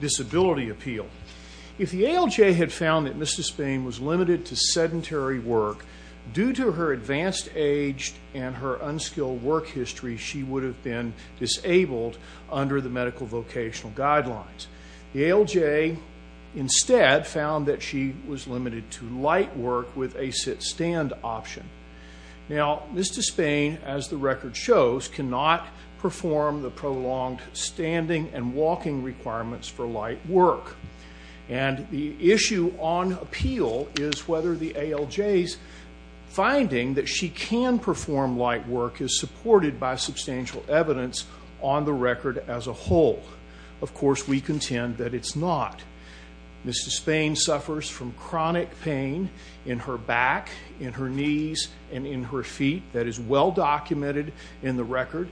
Disability Appeal. If the ALJ had found that Ms. Despain was limited to sedentary work, due to her advanced age and her unskilled work history, she would have been disabled under the medical vocational guidelines. The ALJ instead found that she was limited to light work with a sit-stand option. Now, Ms. Despain, as the record shows, cannot perform the prolonged standing and walking requirements for light work. And the issue on appeal is whether the ALJ's finding that she can perform light work is supported by substantial evidence on the record as a whole. Of course, we contend that it's not. Ms. Despain suffers from chronic pain in her back, in her knees, and in her feet. That is well documented in the record,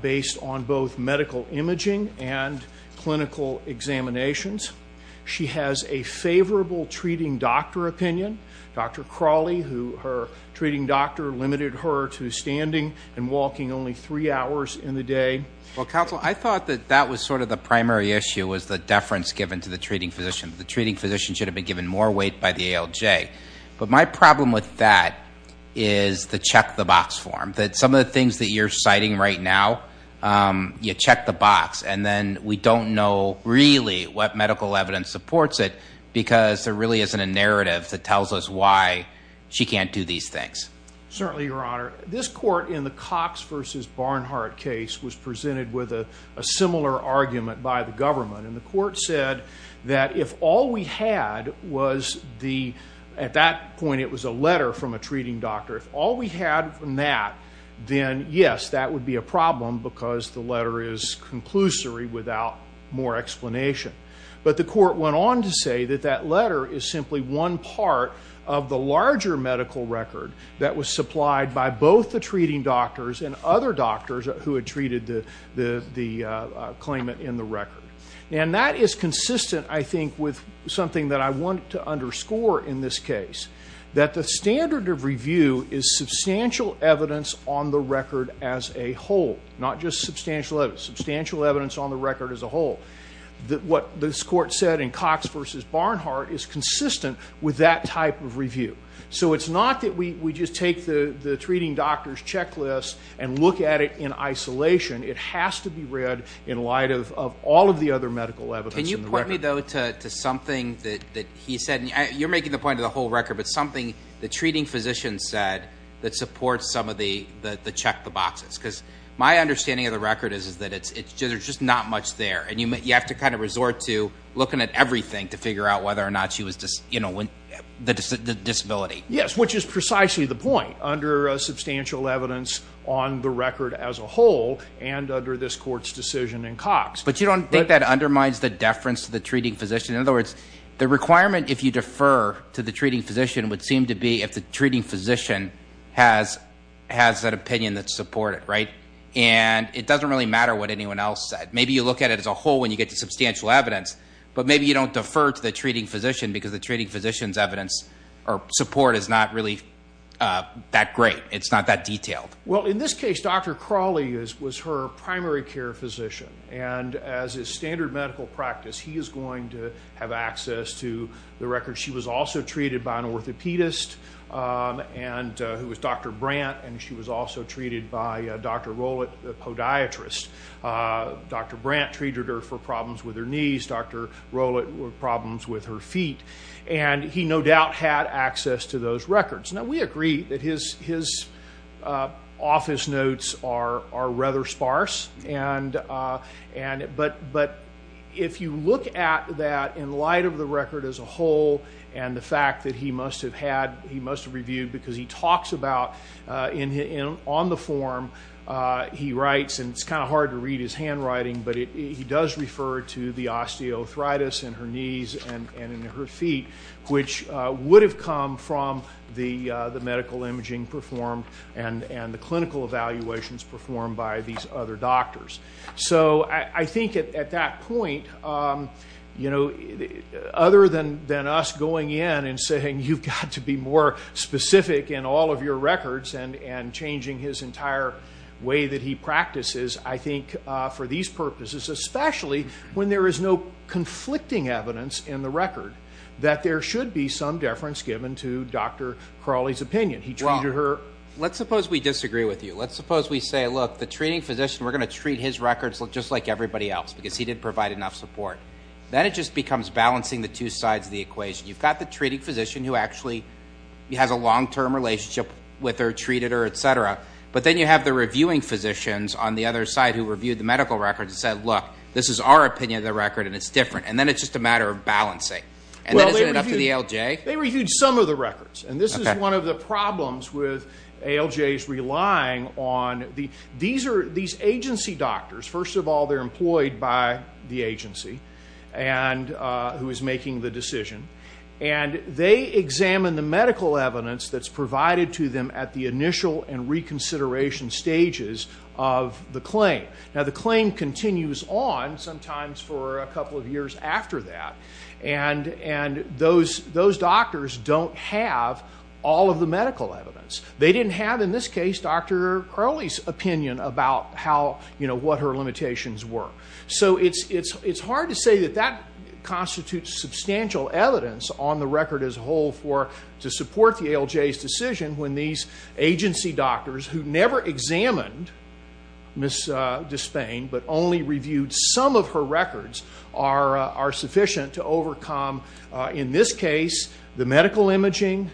based on both medical imaging and clinical examinations. She has a favorable treating doctor opinion. Dr. Crawley, her treating doctor, limited her to standing and walking only three hours in the day. Well, counsel, I thought that that was sort of the primary issue, was the deference given to the treating physician. The treating physician should have been given more weight by the ALJ. But my problem with that is the check-the-box form. Some of the things that you're citing right now, you check the box, and then we don't know really what medical evidence supports it, because there really isn't a narrative that tells us why she can't do these things. Certainly, Your Honor. This court in the Cox v. Barnhart case was presented with a similar argument by the government. And the court said that if all we had was the, at that point it was a letter from a treating doctor, if all we had from that, then yes, that would be a problem, because the letter is conclusory without more explanation. But the court went on to say that that letter is simply one part of the larger medical record that was supplied by both the treating doctors and other doctors who had treated the claimant in the record. And that is consistent, I think, with something that I want to underscore in this case, that the standard of review is substantial evidence on the record as a whole, not just substantial evidence. Substantial evidence on the record as a whole. What this court said in Cox v. Barnhart is consistent with that type of review. So it's not that we just take the treating doctor's checklist and look at it in isolation. It has to be read in light of all of the other medical evidence in the record. Can you point me, though, to something that he said, and you're making the point of the whole record, but something the treating physician said that supports some of the check the boxes. Because my understanding of the record is that there's just not much there. And you have to kind of resort to looking at everything to figure out whether or not she was, you Yes, which is precisely the point. Under substantial evidence on the record as a whole and under this court's decision in Cox. But you don't think that undermines the deference to the treating physician? In other words, the requirement if you defer to the treating physician would seem to be if the treating physician has an opinion that's supported, right? And it doesn't really matter what anyone else said. Maybe you look at it as a whole when you get to substantial evidence, but maybe you don't defer to the treating physician because the treating physician's evidence or support is not really that great. It's not that detailed. Well, in this case, Dr. Crawley is was her primary care physician. And as a standard medical practice, he is going to have access to the record. She was also treated by an orthopedist and who was Dr. Brandt. And she was also treated by Dr. Rowlett, the podiatrist. Dr. Brandt treated her for problems with her knees. Dr. Rowlett problems with her feet. And he no doubt had access to those records. Now, we agree that his office notes are rather sparse. But if you look at that in light of the record as a whole, and the fact that he must have had, he must have reviewed because he talks about on the form, he writes, and it's kind of hard to read his handwriting, but he does refer to the osteoarthritis in her knees and in her feet, which would have come from the medical imaging performed and the clinical evaluations performed by these other doctors. So I think at that point, you know, other than us going in and saying, you've got to be more specific in all of your records and changing his entire way that he practices, I think for these purposes, especially when there is no conflicting evidence in the record that there should be some deference given to Dr. Crawley's opinion. Well, let's suppose we disagree with you. Let's suppose we say, look, the treating physician, we're going to treat his records just like everybody else because he didn't provide enough support. Then it just becomes balancing the two sides of the equation. You've got the treating physician who actually has a long-term relationship with her, etc. But then you have the reviewing physicians on the other side who reviewed the medical records and said, look, this is our opinion of the record, and it's different. And then it's just a matter of balancing. And then isn't it up to the ALJ? They reviewed some of the records. And this is one of the problems with ALJs relying on these agency doctors. First of all, they're employed by the agency who is making the decision. And they examine the medical evidence that's provided to them at the initial and reconsideration stages of the claim. Now, the claim continues on sometimes for a couple of years after that. And those doctors don't have all of the medical evidence. They didn't have, in this case, Dr. Crawley's opinion about what her limitations were. So it's hard to say that that constitutes substantial evidence on the record as a whole to support the ALJ's decision when these agency doctors who never examined Ms. Despain but only reviewed some of her records are sufficient to overcome, in this case, the medical imaging,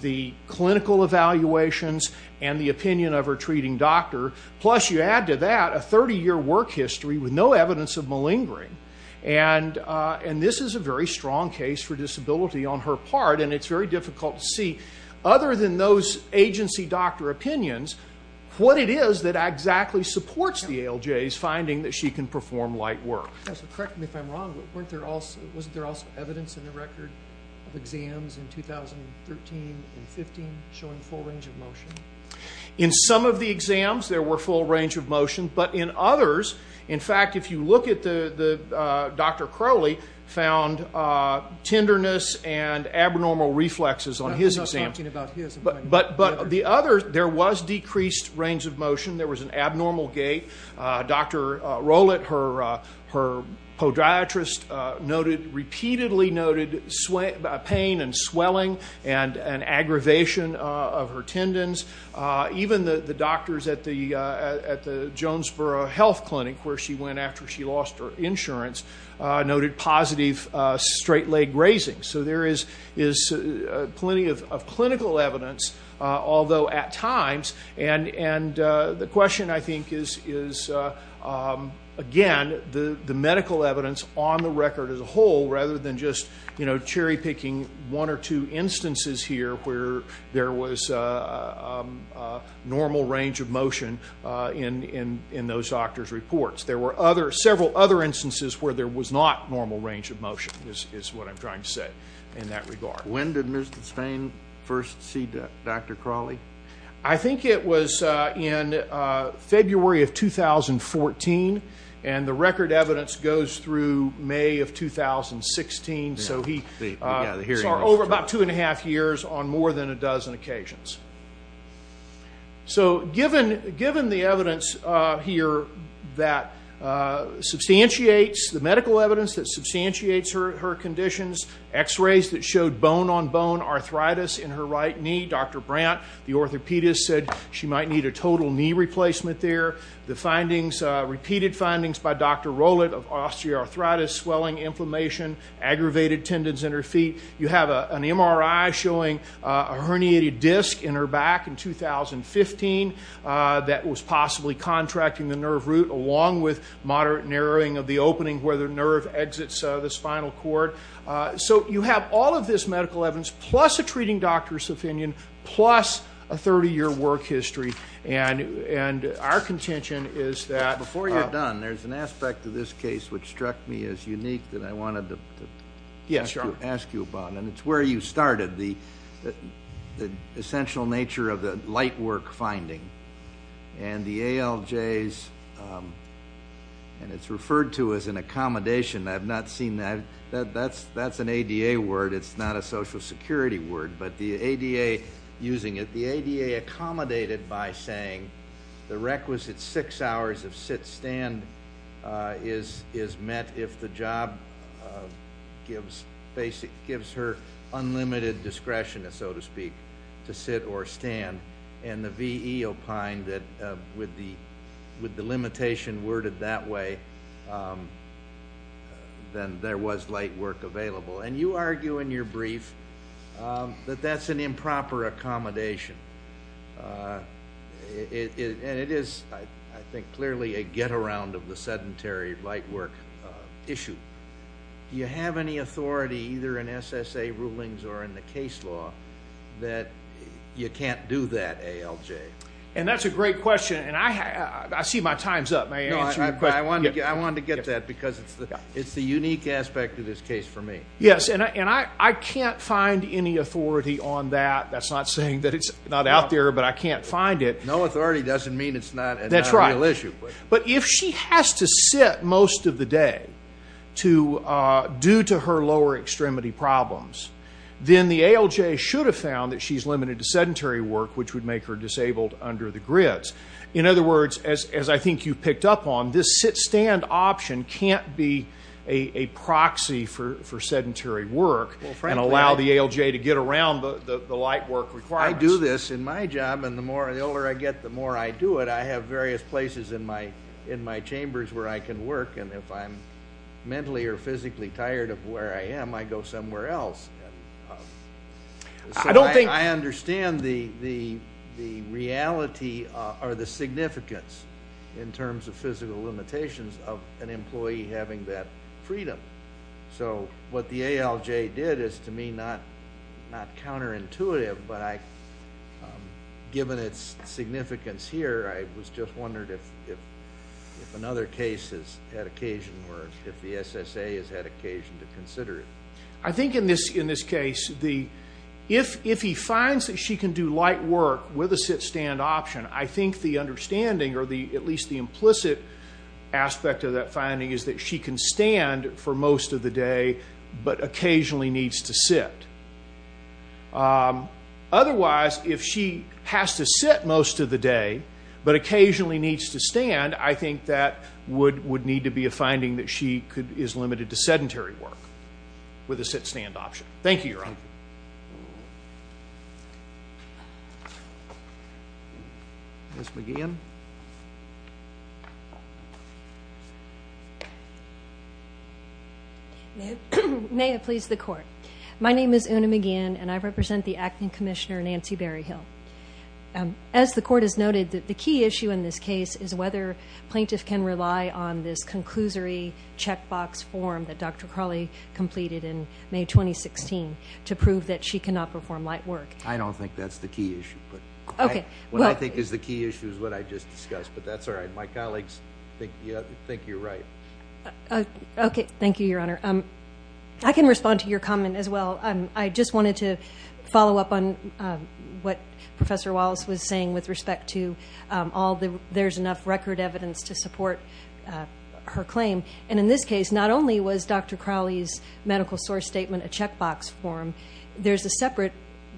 the clinical evaluations, and the opinion of her treating doctor. Plus, you add to that a 30-year work history with no evidence of a very strong case for disability on her part. And it's very difficult to see, other than those agency doctor opinions, what it is that exactly supports the ALJ's finding that she can perform light work. Correct me if I'm wrong, but wasn't there also evidence in the record of exams in 2013 and 2015 showing full range of motion? In some of the exams, there were full range of motion. But in others, in fact, if you look at Dr. Crawley, found tenderness and abnormal reflexes on his exams. I'm not talking about his. But the others, there was decreased range of motion. There was an abnormal gait. Dr. Rowlett, her podiatrist, noted, repeatedly noted pain and swelling and an aggravation of her tendons. Even the doctors at the Jonesboro Health Clinic, where she went after she lost her insurance, noted positive straight leg grazing. So there is plenty of clinical evidence, although at times, and the question, I think, is again, the medical evidence on the record as a whole, rather than just cherry picking one or two instances here where there was normal range of motion in those doctors' reports. There were several other instances where there was not normal range of motion, is what I'm trying to say in that regard. When did Ms. Dustain first see Dr. Crawley? I think it was in February of 2014. And the record evidence goes through May of 2016. So over about two and a half years on more than a dozen occasions. So given the evidence here that substantiates, the medical evidence that substantiates her conditions, x-rays that showed bone-on-bone arthritis in her right knee, Dr. Crawley, repeated findings by Dr. Rowlett of osteoarthritis, swelling, inflammation, aggravated tendons in her feet. You have an MRI showing a herniated disc in her back in 2015 that was possibly contracting the nerve root along with moderate narrowing of the opening where the nerve exits the spinal cord. So you have all of this medical evidence plus a treating doctor's opinion plus a 30-year work history. And our contention is that... Before you're done, there's an aspect of this case which struck me as unique that I wanted to ask you about. And it's where you started, the essential nature of the light work finding. And the ALJs, and it's referred to as an accommodation. I've not seen that. That's ADA word. It's not a social security word. But the ADA using it, the ADA accommodated by saying the requisite six hours of sit-stand is met if the job gives her unlimited discretion, so to speak, to sit or stand. And the VE opined that with the limitation worded that way, then there was light work available. And you argue in your brief that that's an improper accommodation. And it is, I think, clearly a get-around of the sedentary light work issue. Do you have any authority either in SSA rulings or in the case law that you can't do that ALJ? And that's a great question. And I see my time's up. I wanted to get that because it's the unique aspect of this case for me. Yes. And I can't find any authority on that. That's not saying that it's not out there, but I can't find it. No authority doesn't mean it's not a real issue. But if she has to sit most of the day due to her lower extremity problems, then the ALJ should have found that she's limited to sedentary work, which would make her disabled under the grids. In other words, as I think you picked up on, this sit-stand option can't be a proxy for sedentary work and allow the ALJ to get around the light work requirements. I do this in my job. And the older I get, the more I do it. I have various places in my chambers where I can work. And if I'm mentally or physically tired of where I am, I go somewhere else. And so I understand the reality or the significance, in terms of physical limitations, of an employee having that freedom. So what the ALJ did is, to me, not counterintuitive, but given its significance here, I was just wondering if another case has had occasion or if the SSA has had occasion to consider it. I think in this case, if he finds that she can do light work with a sit-stand option, I think the understanding, or at least the implicit aspect of that finding, is that she can stand for most of the day but occasionally needs to sit. Otherwise, if she has to sit most of the day but occasionally needs to stand, I think that would need to be a finding that she is limited to sedentary work with a sit-stand option. Thank you, Your Honor. Ms. McGehan. May it please the Court. My name is Una McGehan, and I represent the Acting Commissioner, Nancy Berryhill. As the Court has noted, the key issue in this case is whether plaintiff can rely on this conclusory checkbox form that Dr. Crawley completed in May 2016 to prove that she cannot perform light work. I don't think that's the key issue. What I think is the key issue is what I just discussed, but that's all right. My colleagues think you're right. Okay. Thank you, Your Honor. I can respond to your comment as well. I just wanted to follow up on what Professor Wallace was saying with respect to there's enough record evidence to support her claim. In this case, not only was Dr. Crawley's medical source statement a checkbox form, there's a separate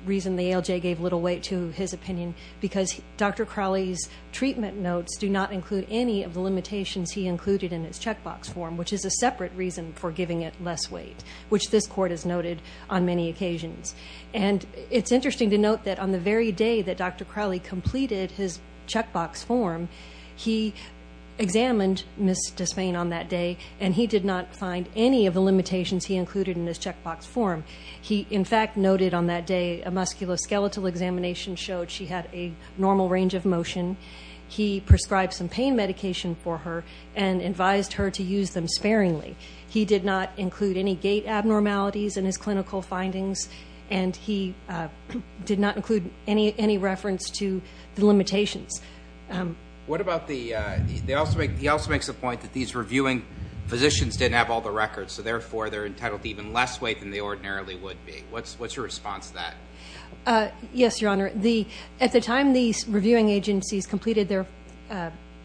reason the ALJ gave little weight to his opinion because Dr. Crawley's treatment notes do not include any of the limitations he included in his checkbox form, which is a separate reason for giving it less weight, which this Court has noted on many occasions. It's interesting to note that on the very day Dr. Crawley completed his checkbox form, he examined Ms. Despain on that day and he did not find any of the limitations he included in his checkbox form. He, in fact, noted on that day a musculoskeletal examination showed she had a normal range of motion. He prescribed some pain medication for her and advised her to use them sparingly. He did not include any gait abnormalities in his clinical findings and he did not include any reference to the limitations. He also makes the point that these reviewing physicians didn't have all the records, so therefore they're entitled to even less weight than they ordinarily would be. What's your response to that? Yes, Your Honor. At the time these reviewing agencies completed their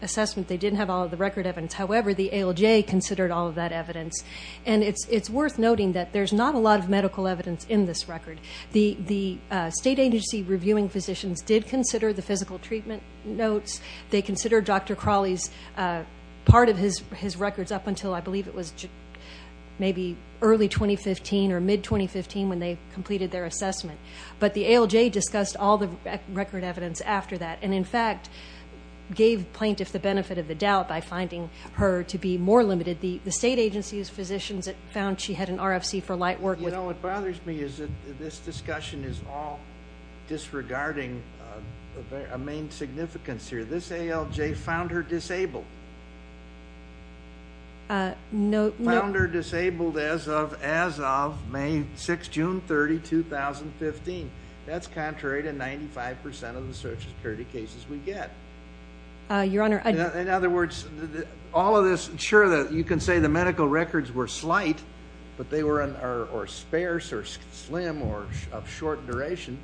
assessment, they didn't have all of the record evidence. However, the ALJ considered all of that evidence. It's worth noting that there's not a lot of medical evidence in this record. The state agency reviewing physicians did consider the physical treatment notes. They considered Dr. Crawley's part of his records up until I believe it was maybe early 2015 or mid-2015 when they completed their assessment. But the ALJ discussed all the record evidence after that and, in fact, gave the plaintiff the benefit of the doubt by finding her to be more limited. The state agency's physicians found she had an RFC for light work. You know what bothers me is that this discussion is all disregarding a main significance here. This ALJ found her disabled. Found her disabled as of May 6, June 30, 2015. That's contrary to 95 percent of the all of this. Sure, you can say the medical records were slight, but they were on or sparse or slim or of short duration.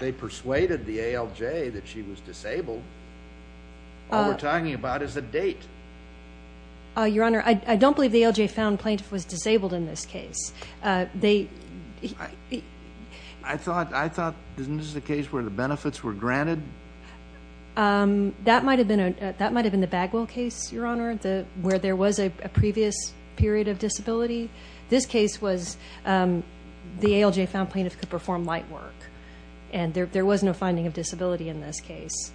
They persuaded the ALJ that she was disabled. All we're talking about is a date. Your Honor, I don't believe the ALJ found plaintiff was disabled in this case. I thought, isn't this the case where the benefits were granted? That might have been the Bagwell case, Your Honor, where there was a previous period of disability. This case was the ALJ found plaintiff could perform light work, and there was no finding of disability in this case.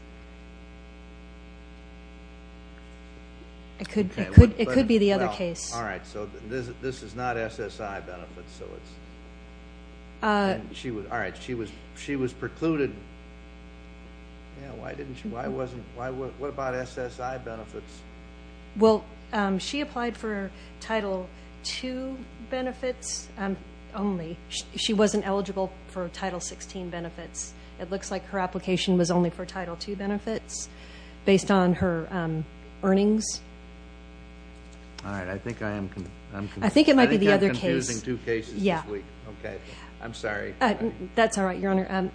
It could be the other case. All right, so this is not SSI benefits, is it? All right, she was precluded. What about SSI benefits? Well, she applied for Title II benefits only. She wasn't eligible for Title XVI benefits. It looks like her application was only for Title II benefits based on her earnings. All right, I think I am confusing two cases this week. Okay, I'm sorry. That's all right, Your Honor.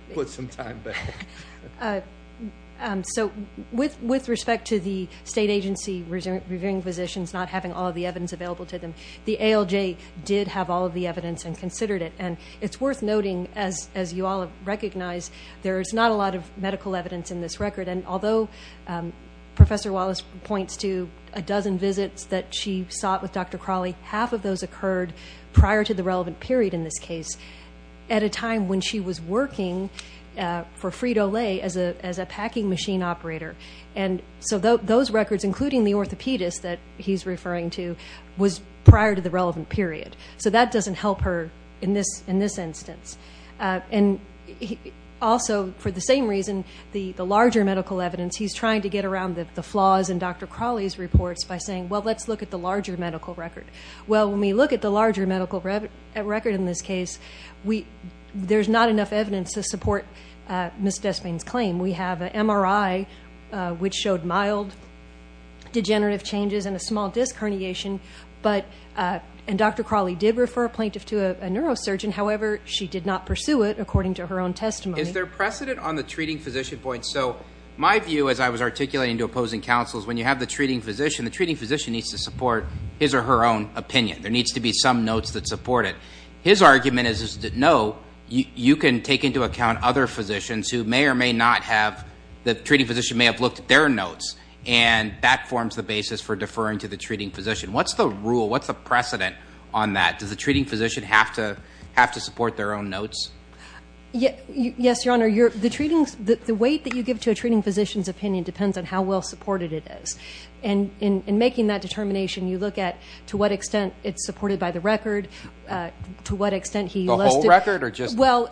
With respect to the state agency reviewing physicians not having all of the evidence available to them, the ALJ did have all of the evidence and considered it. It's worth noting, as you all have recognized, there is not a lot of medical evidence in this record. Although Professor Wallace points to a dozen visits that she sought with Dr. Crawley, half of those occurred prior to the relevant period in this case at a time when she was working for Frito-Lay as a packing machine operator. Those records, including the orthopedist that he's referring to, was prior to the relevant period. That doesn't help her in this instance. And also, for the same reason, the larger medical evidence, he's trying to get around the flaws in Dr. Crawley's reports by saying, well, let's look at the larger medical record. Well, when we look at the larger medical record in this case, there's not enough evidence to support Ms. Despain's claim. We have an MRI which showed mild degenerative changes and a small disc herniation, and Dr. Crawley did refer a plaintiff to a physician who did not pursue it, according to her own testimony. Is there precedent on the treating physician point? So my view, as I was articulating to opposing counsel, is when you have the treating physician, the treating physician needs to support his or her own opinion. There needs to be some notes that support it. His argument is that, no, you can take into account other physicians who may or may not have, the treating physician may have looked at their notes, and that forms the basis for deferring to the treating physician. What's the rule? What's the precedent on that? Does the treating physician have to support their own notes? Yes, Your Honor. The weight that you give to a treating physician's opinion depends on how well supported it is, and in making that determination, you look at to what extent it's supported by the record, to what extent he- The whole record or just- Well,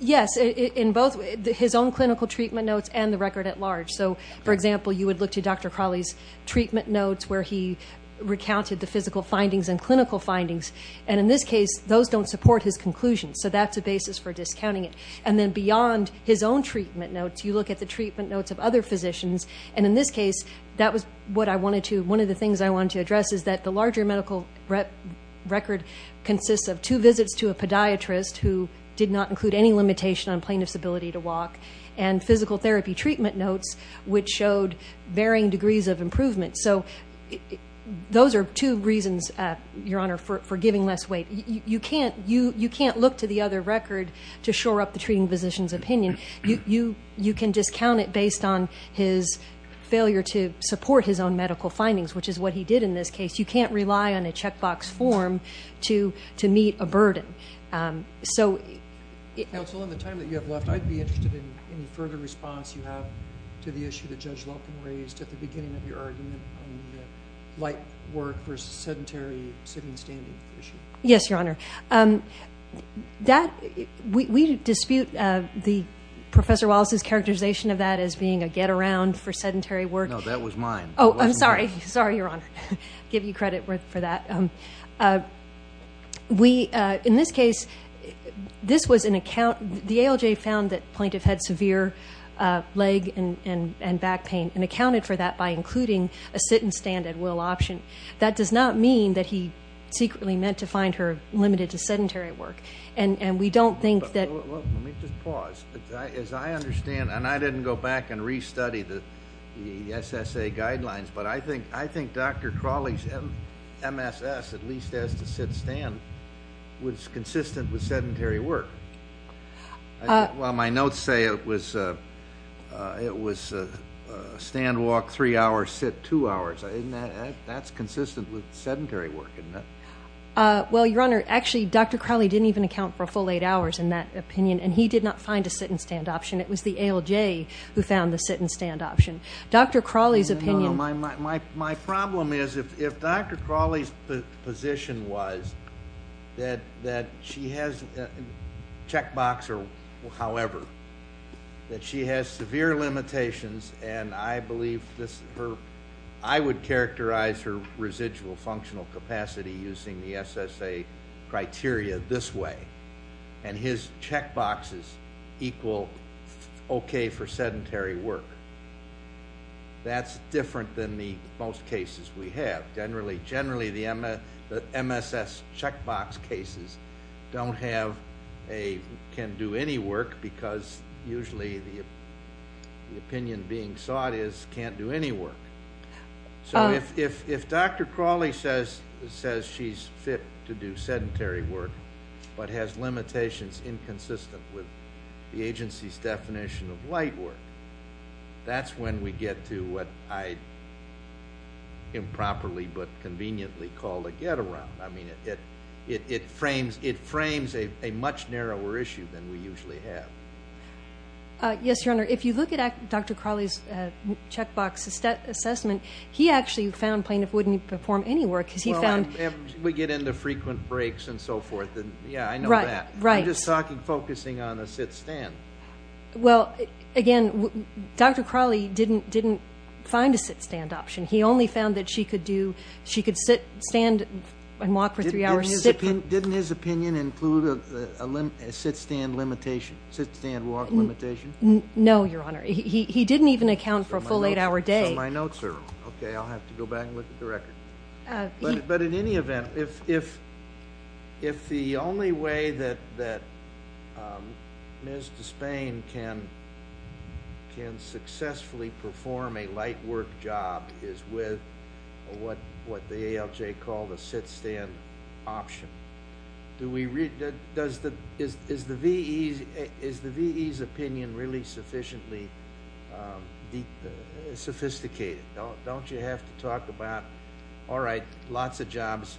yes, in both his own clinical treatment notes and the record at large. So for example, you would look to Dr. Crawley's treatment notes where he recounted the physical findings and clinical findings, and in this case, those don't support his conclusion, so that's a basis for discounting it. And then beyond his own treatment notes, you look at the treatment notes of other physicians, and in this case, that was what I wanted to, one of the things I wanted to address is that the larger medical record consists of two visits to a podiatrist who did not include any limitation on plaintiff's ability to walk, and physical therapy treatment notes which showed varying degrees of improvement. So those are two reasons, Your Honor, for giving less weight. You can't look to the other record to shore up the treating physician's opinion. You can discount it based on his failure to support his own medical findings, which is what he did in this case. You can't rely on a checkbox form to meet a burden. So- Counsel, in the time that you have left, I'd be interested in any further response you have to the issue that Judge Lelkin raised at the beginning of your argument on the light work versus sedentary sitting standing issue. Yes, Your Honor. That, we dispute the Professor Wallace's characterization of that as being a get around for sedentary work. No, that was mine. Oh, I'm sorry. Sorry, Your Honor. Give you credit for that. We, in this case, this was an account, the ALJ found that plaintiff had severe leg and back pain and accounted for that by including a sit and stand at will option. That does not mean that he secretly meant to find her limited to sedentary work. And we don't think that- Let me just pause. As I understand, and I didn't go back and restudy the SSA guidelines, but I think Dr. Crawley's MSS, at least as to sit stand, was consistent with sedentary work. Well, my notes say it was stand, walk three hours, sit two hours. That's consistent with sedentary work, isn't it? Well, Your Honor, actually, Dr. Crawley didn't even account for a full eight hours in that opinion. And he did not find a sit and stand option. It was the ALJ who found the sit and stand option. The position was that she has, checkbox or however, that she has severe limitations. And I believe this, I would characterize her residual functional capacity using the SSA criteria this way. And his checkboxes equal okay for sedentary work. And that's different than the most cases we have. Generally, the MSS checkbox cases don't have a- can do any work because usually the opinion being sought is can't do any work. So if Dr. Crawley says she's fit to do sedentary work, but has limitations inconsistent with the agency's definition of light work, that's when we get to what I improperly but conveniently call a get around. I mean, it frames a much narrower issue than we usually have. Yes, Your Honor. If you look at Dr. Crawley's checkbox assessment, he actually found plaintiff wouldn't perform any work because he found- Well, we get into frequent breaks and so forth. Yeah, I know that. Right. I'm just talking, focusing on a sit-stand. Well, again, Dr. Crawley didn't find a sit-stand option. He only found that she could do, she could sit, stand, and walk for three hours. Didn't his opinion include a sit-stand limitation, sit-stand walk limitation? No, Your Honor. He didn't even account for a full eight-hour day. Okay. I'll have to go back and look at the record. But in any event, if the only way that Ms. Despain can successfully perform a light work job is with what the ALJ called a sit-stand option, is the VE's opinion really sufficiently sophisticated? Don't you have to talk about, all right, lots of jobs.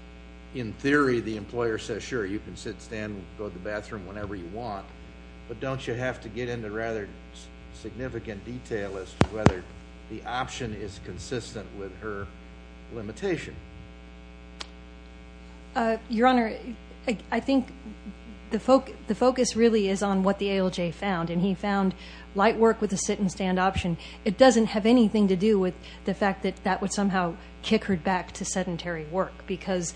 In theory, the employer says, sure, you can sit, stand, go to the bathroom whenever you want. But don't you have to get into rather significant detail as to whether the option is consistent with her limitation? Your Honor, I think the focus really is on what the ALJ found. And he found light work with a sit-and-stand option. It doesn't have anything to do with the fact that that would somehow kick her back to sedentary work. Because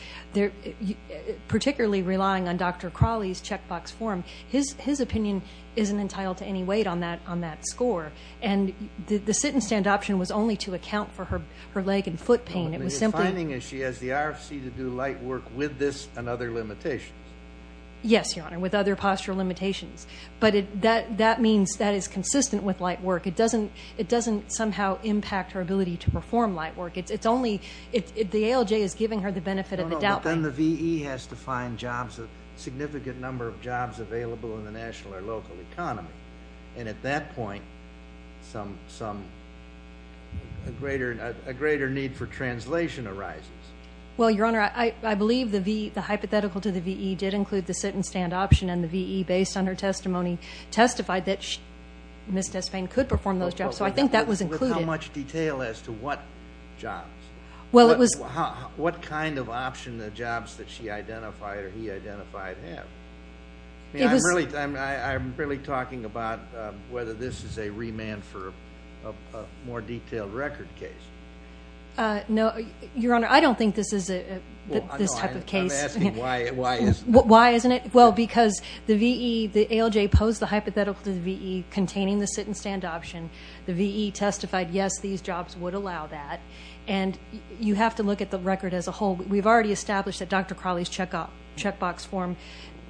particularly relying on Dr. Crawley's checkbox form, his opinion isn't entitled to any weight on that score. And the sit-and-stand option was only to account for her leg and foot pain. You're finding that she has the RFC to do light work with this and other limitations? Yes, Your Honor, with other postural limitations. But that means that is consistent with light work. It doesn't somehow impact her ability to perform light work. The ALJ is giving her the benefit of the doubt. But then the VE has to find jobs, a significant number of jobs available in the national or local economy. And at that point, some a greater need for translation arises. Well, Your Honor, I believe the hypothetical to the VE did include the sit-and-stand option. And the VE, based on her testimony, testified that Ms. Tesfane could perform those jobs. So I think that was included. With how much detail as to what jobs? What kind of option the jobs that she identified or he identified have? I'm really talking about whether this is a remand for a more detailed record case. No, Your Honor, I don't think this is this type of case. I'm asking why isn't it? Well, because the VE, the ALJ posed the hypothetical to the VE containing the sit-and-stand option. The VE testified, yes, these jobs would allow that. And you have to look at the record as a whole. We've already established that Dr. Crowley's checkbox form,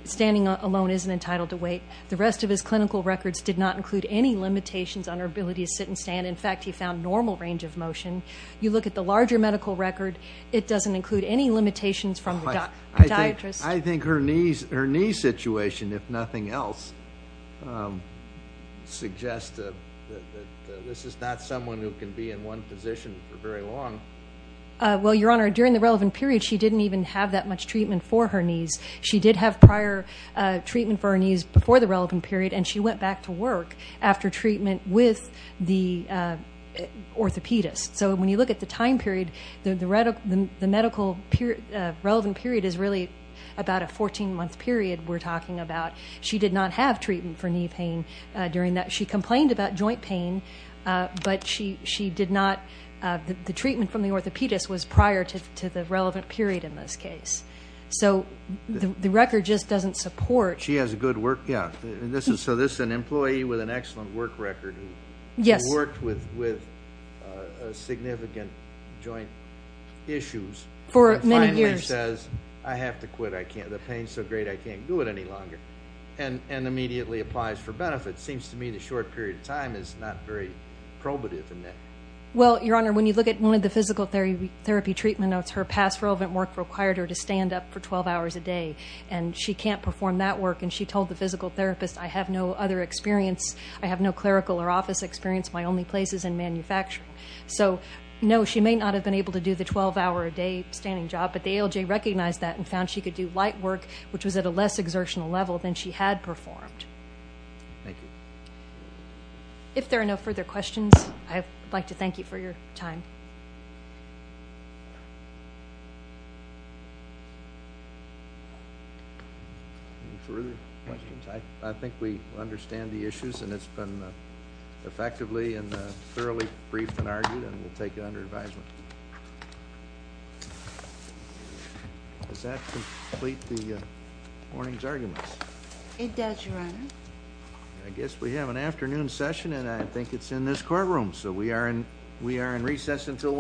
standing alone, isn't entitled to wait. The rest of his clinical records did not include any limitations on her ability to sit and stand. In fact, he found normal range of motion. You look at the larger medical record, it doesn't include any limitations from the dietarist. I think her knee situation, if nothing else, suggests that this is not someone who can be in one position for very long. Well, Your Honor, during the relevant period, she didn't even have that much treatment for her knees. She did have prior treatment for her knees before the relevant period, and she went back to work after treatment with the orthopedist. So when you look at the time period, the medical relevant period is really about a 14-month period we're talking about. She did not have treatment for knee pain during that. She complained about joint pain, but the treatment from the orthopedist was prior to the relevant period in this case. So the record just doesn't support... She has a good work... Yeah. So this is an employee with an excellent work record who worked with significant joint issues... For many years. ...and finally says, I have to quit. The pain's so great, I can't do it any longer, and immediately applies for benefit. Seems to me the short period of time is not very probative in that. Well, Your Honor, when you look at one of the physical therapy treatment notes, her past relevant work required her to stand up for 12 hours a day, and she can't perform that work, and she told the physical therapist, I have no other experience. I have no clerical or office experience. My only place is in manufacturing. So no, she may not have been able to do the 12-hour-a-day standing job, but the ALJ recognized that and found she could do light work, which was at a less exertional level than she had performed. Thank you. If there are no further questions, I'd like to thank you for your time. Further questions? I think we understand the issues, and it's been effectively and thoroughly briefed and argued, and we'll take it under advisement. Does that complete the morning's arguments? It does, Your Honor. I guess we have an afternoon session, and I think it's in this courtroom, so we are in recess until 1.30.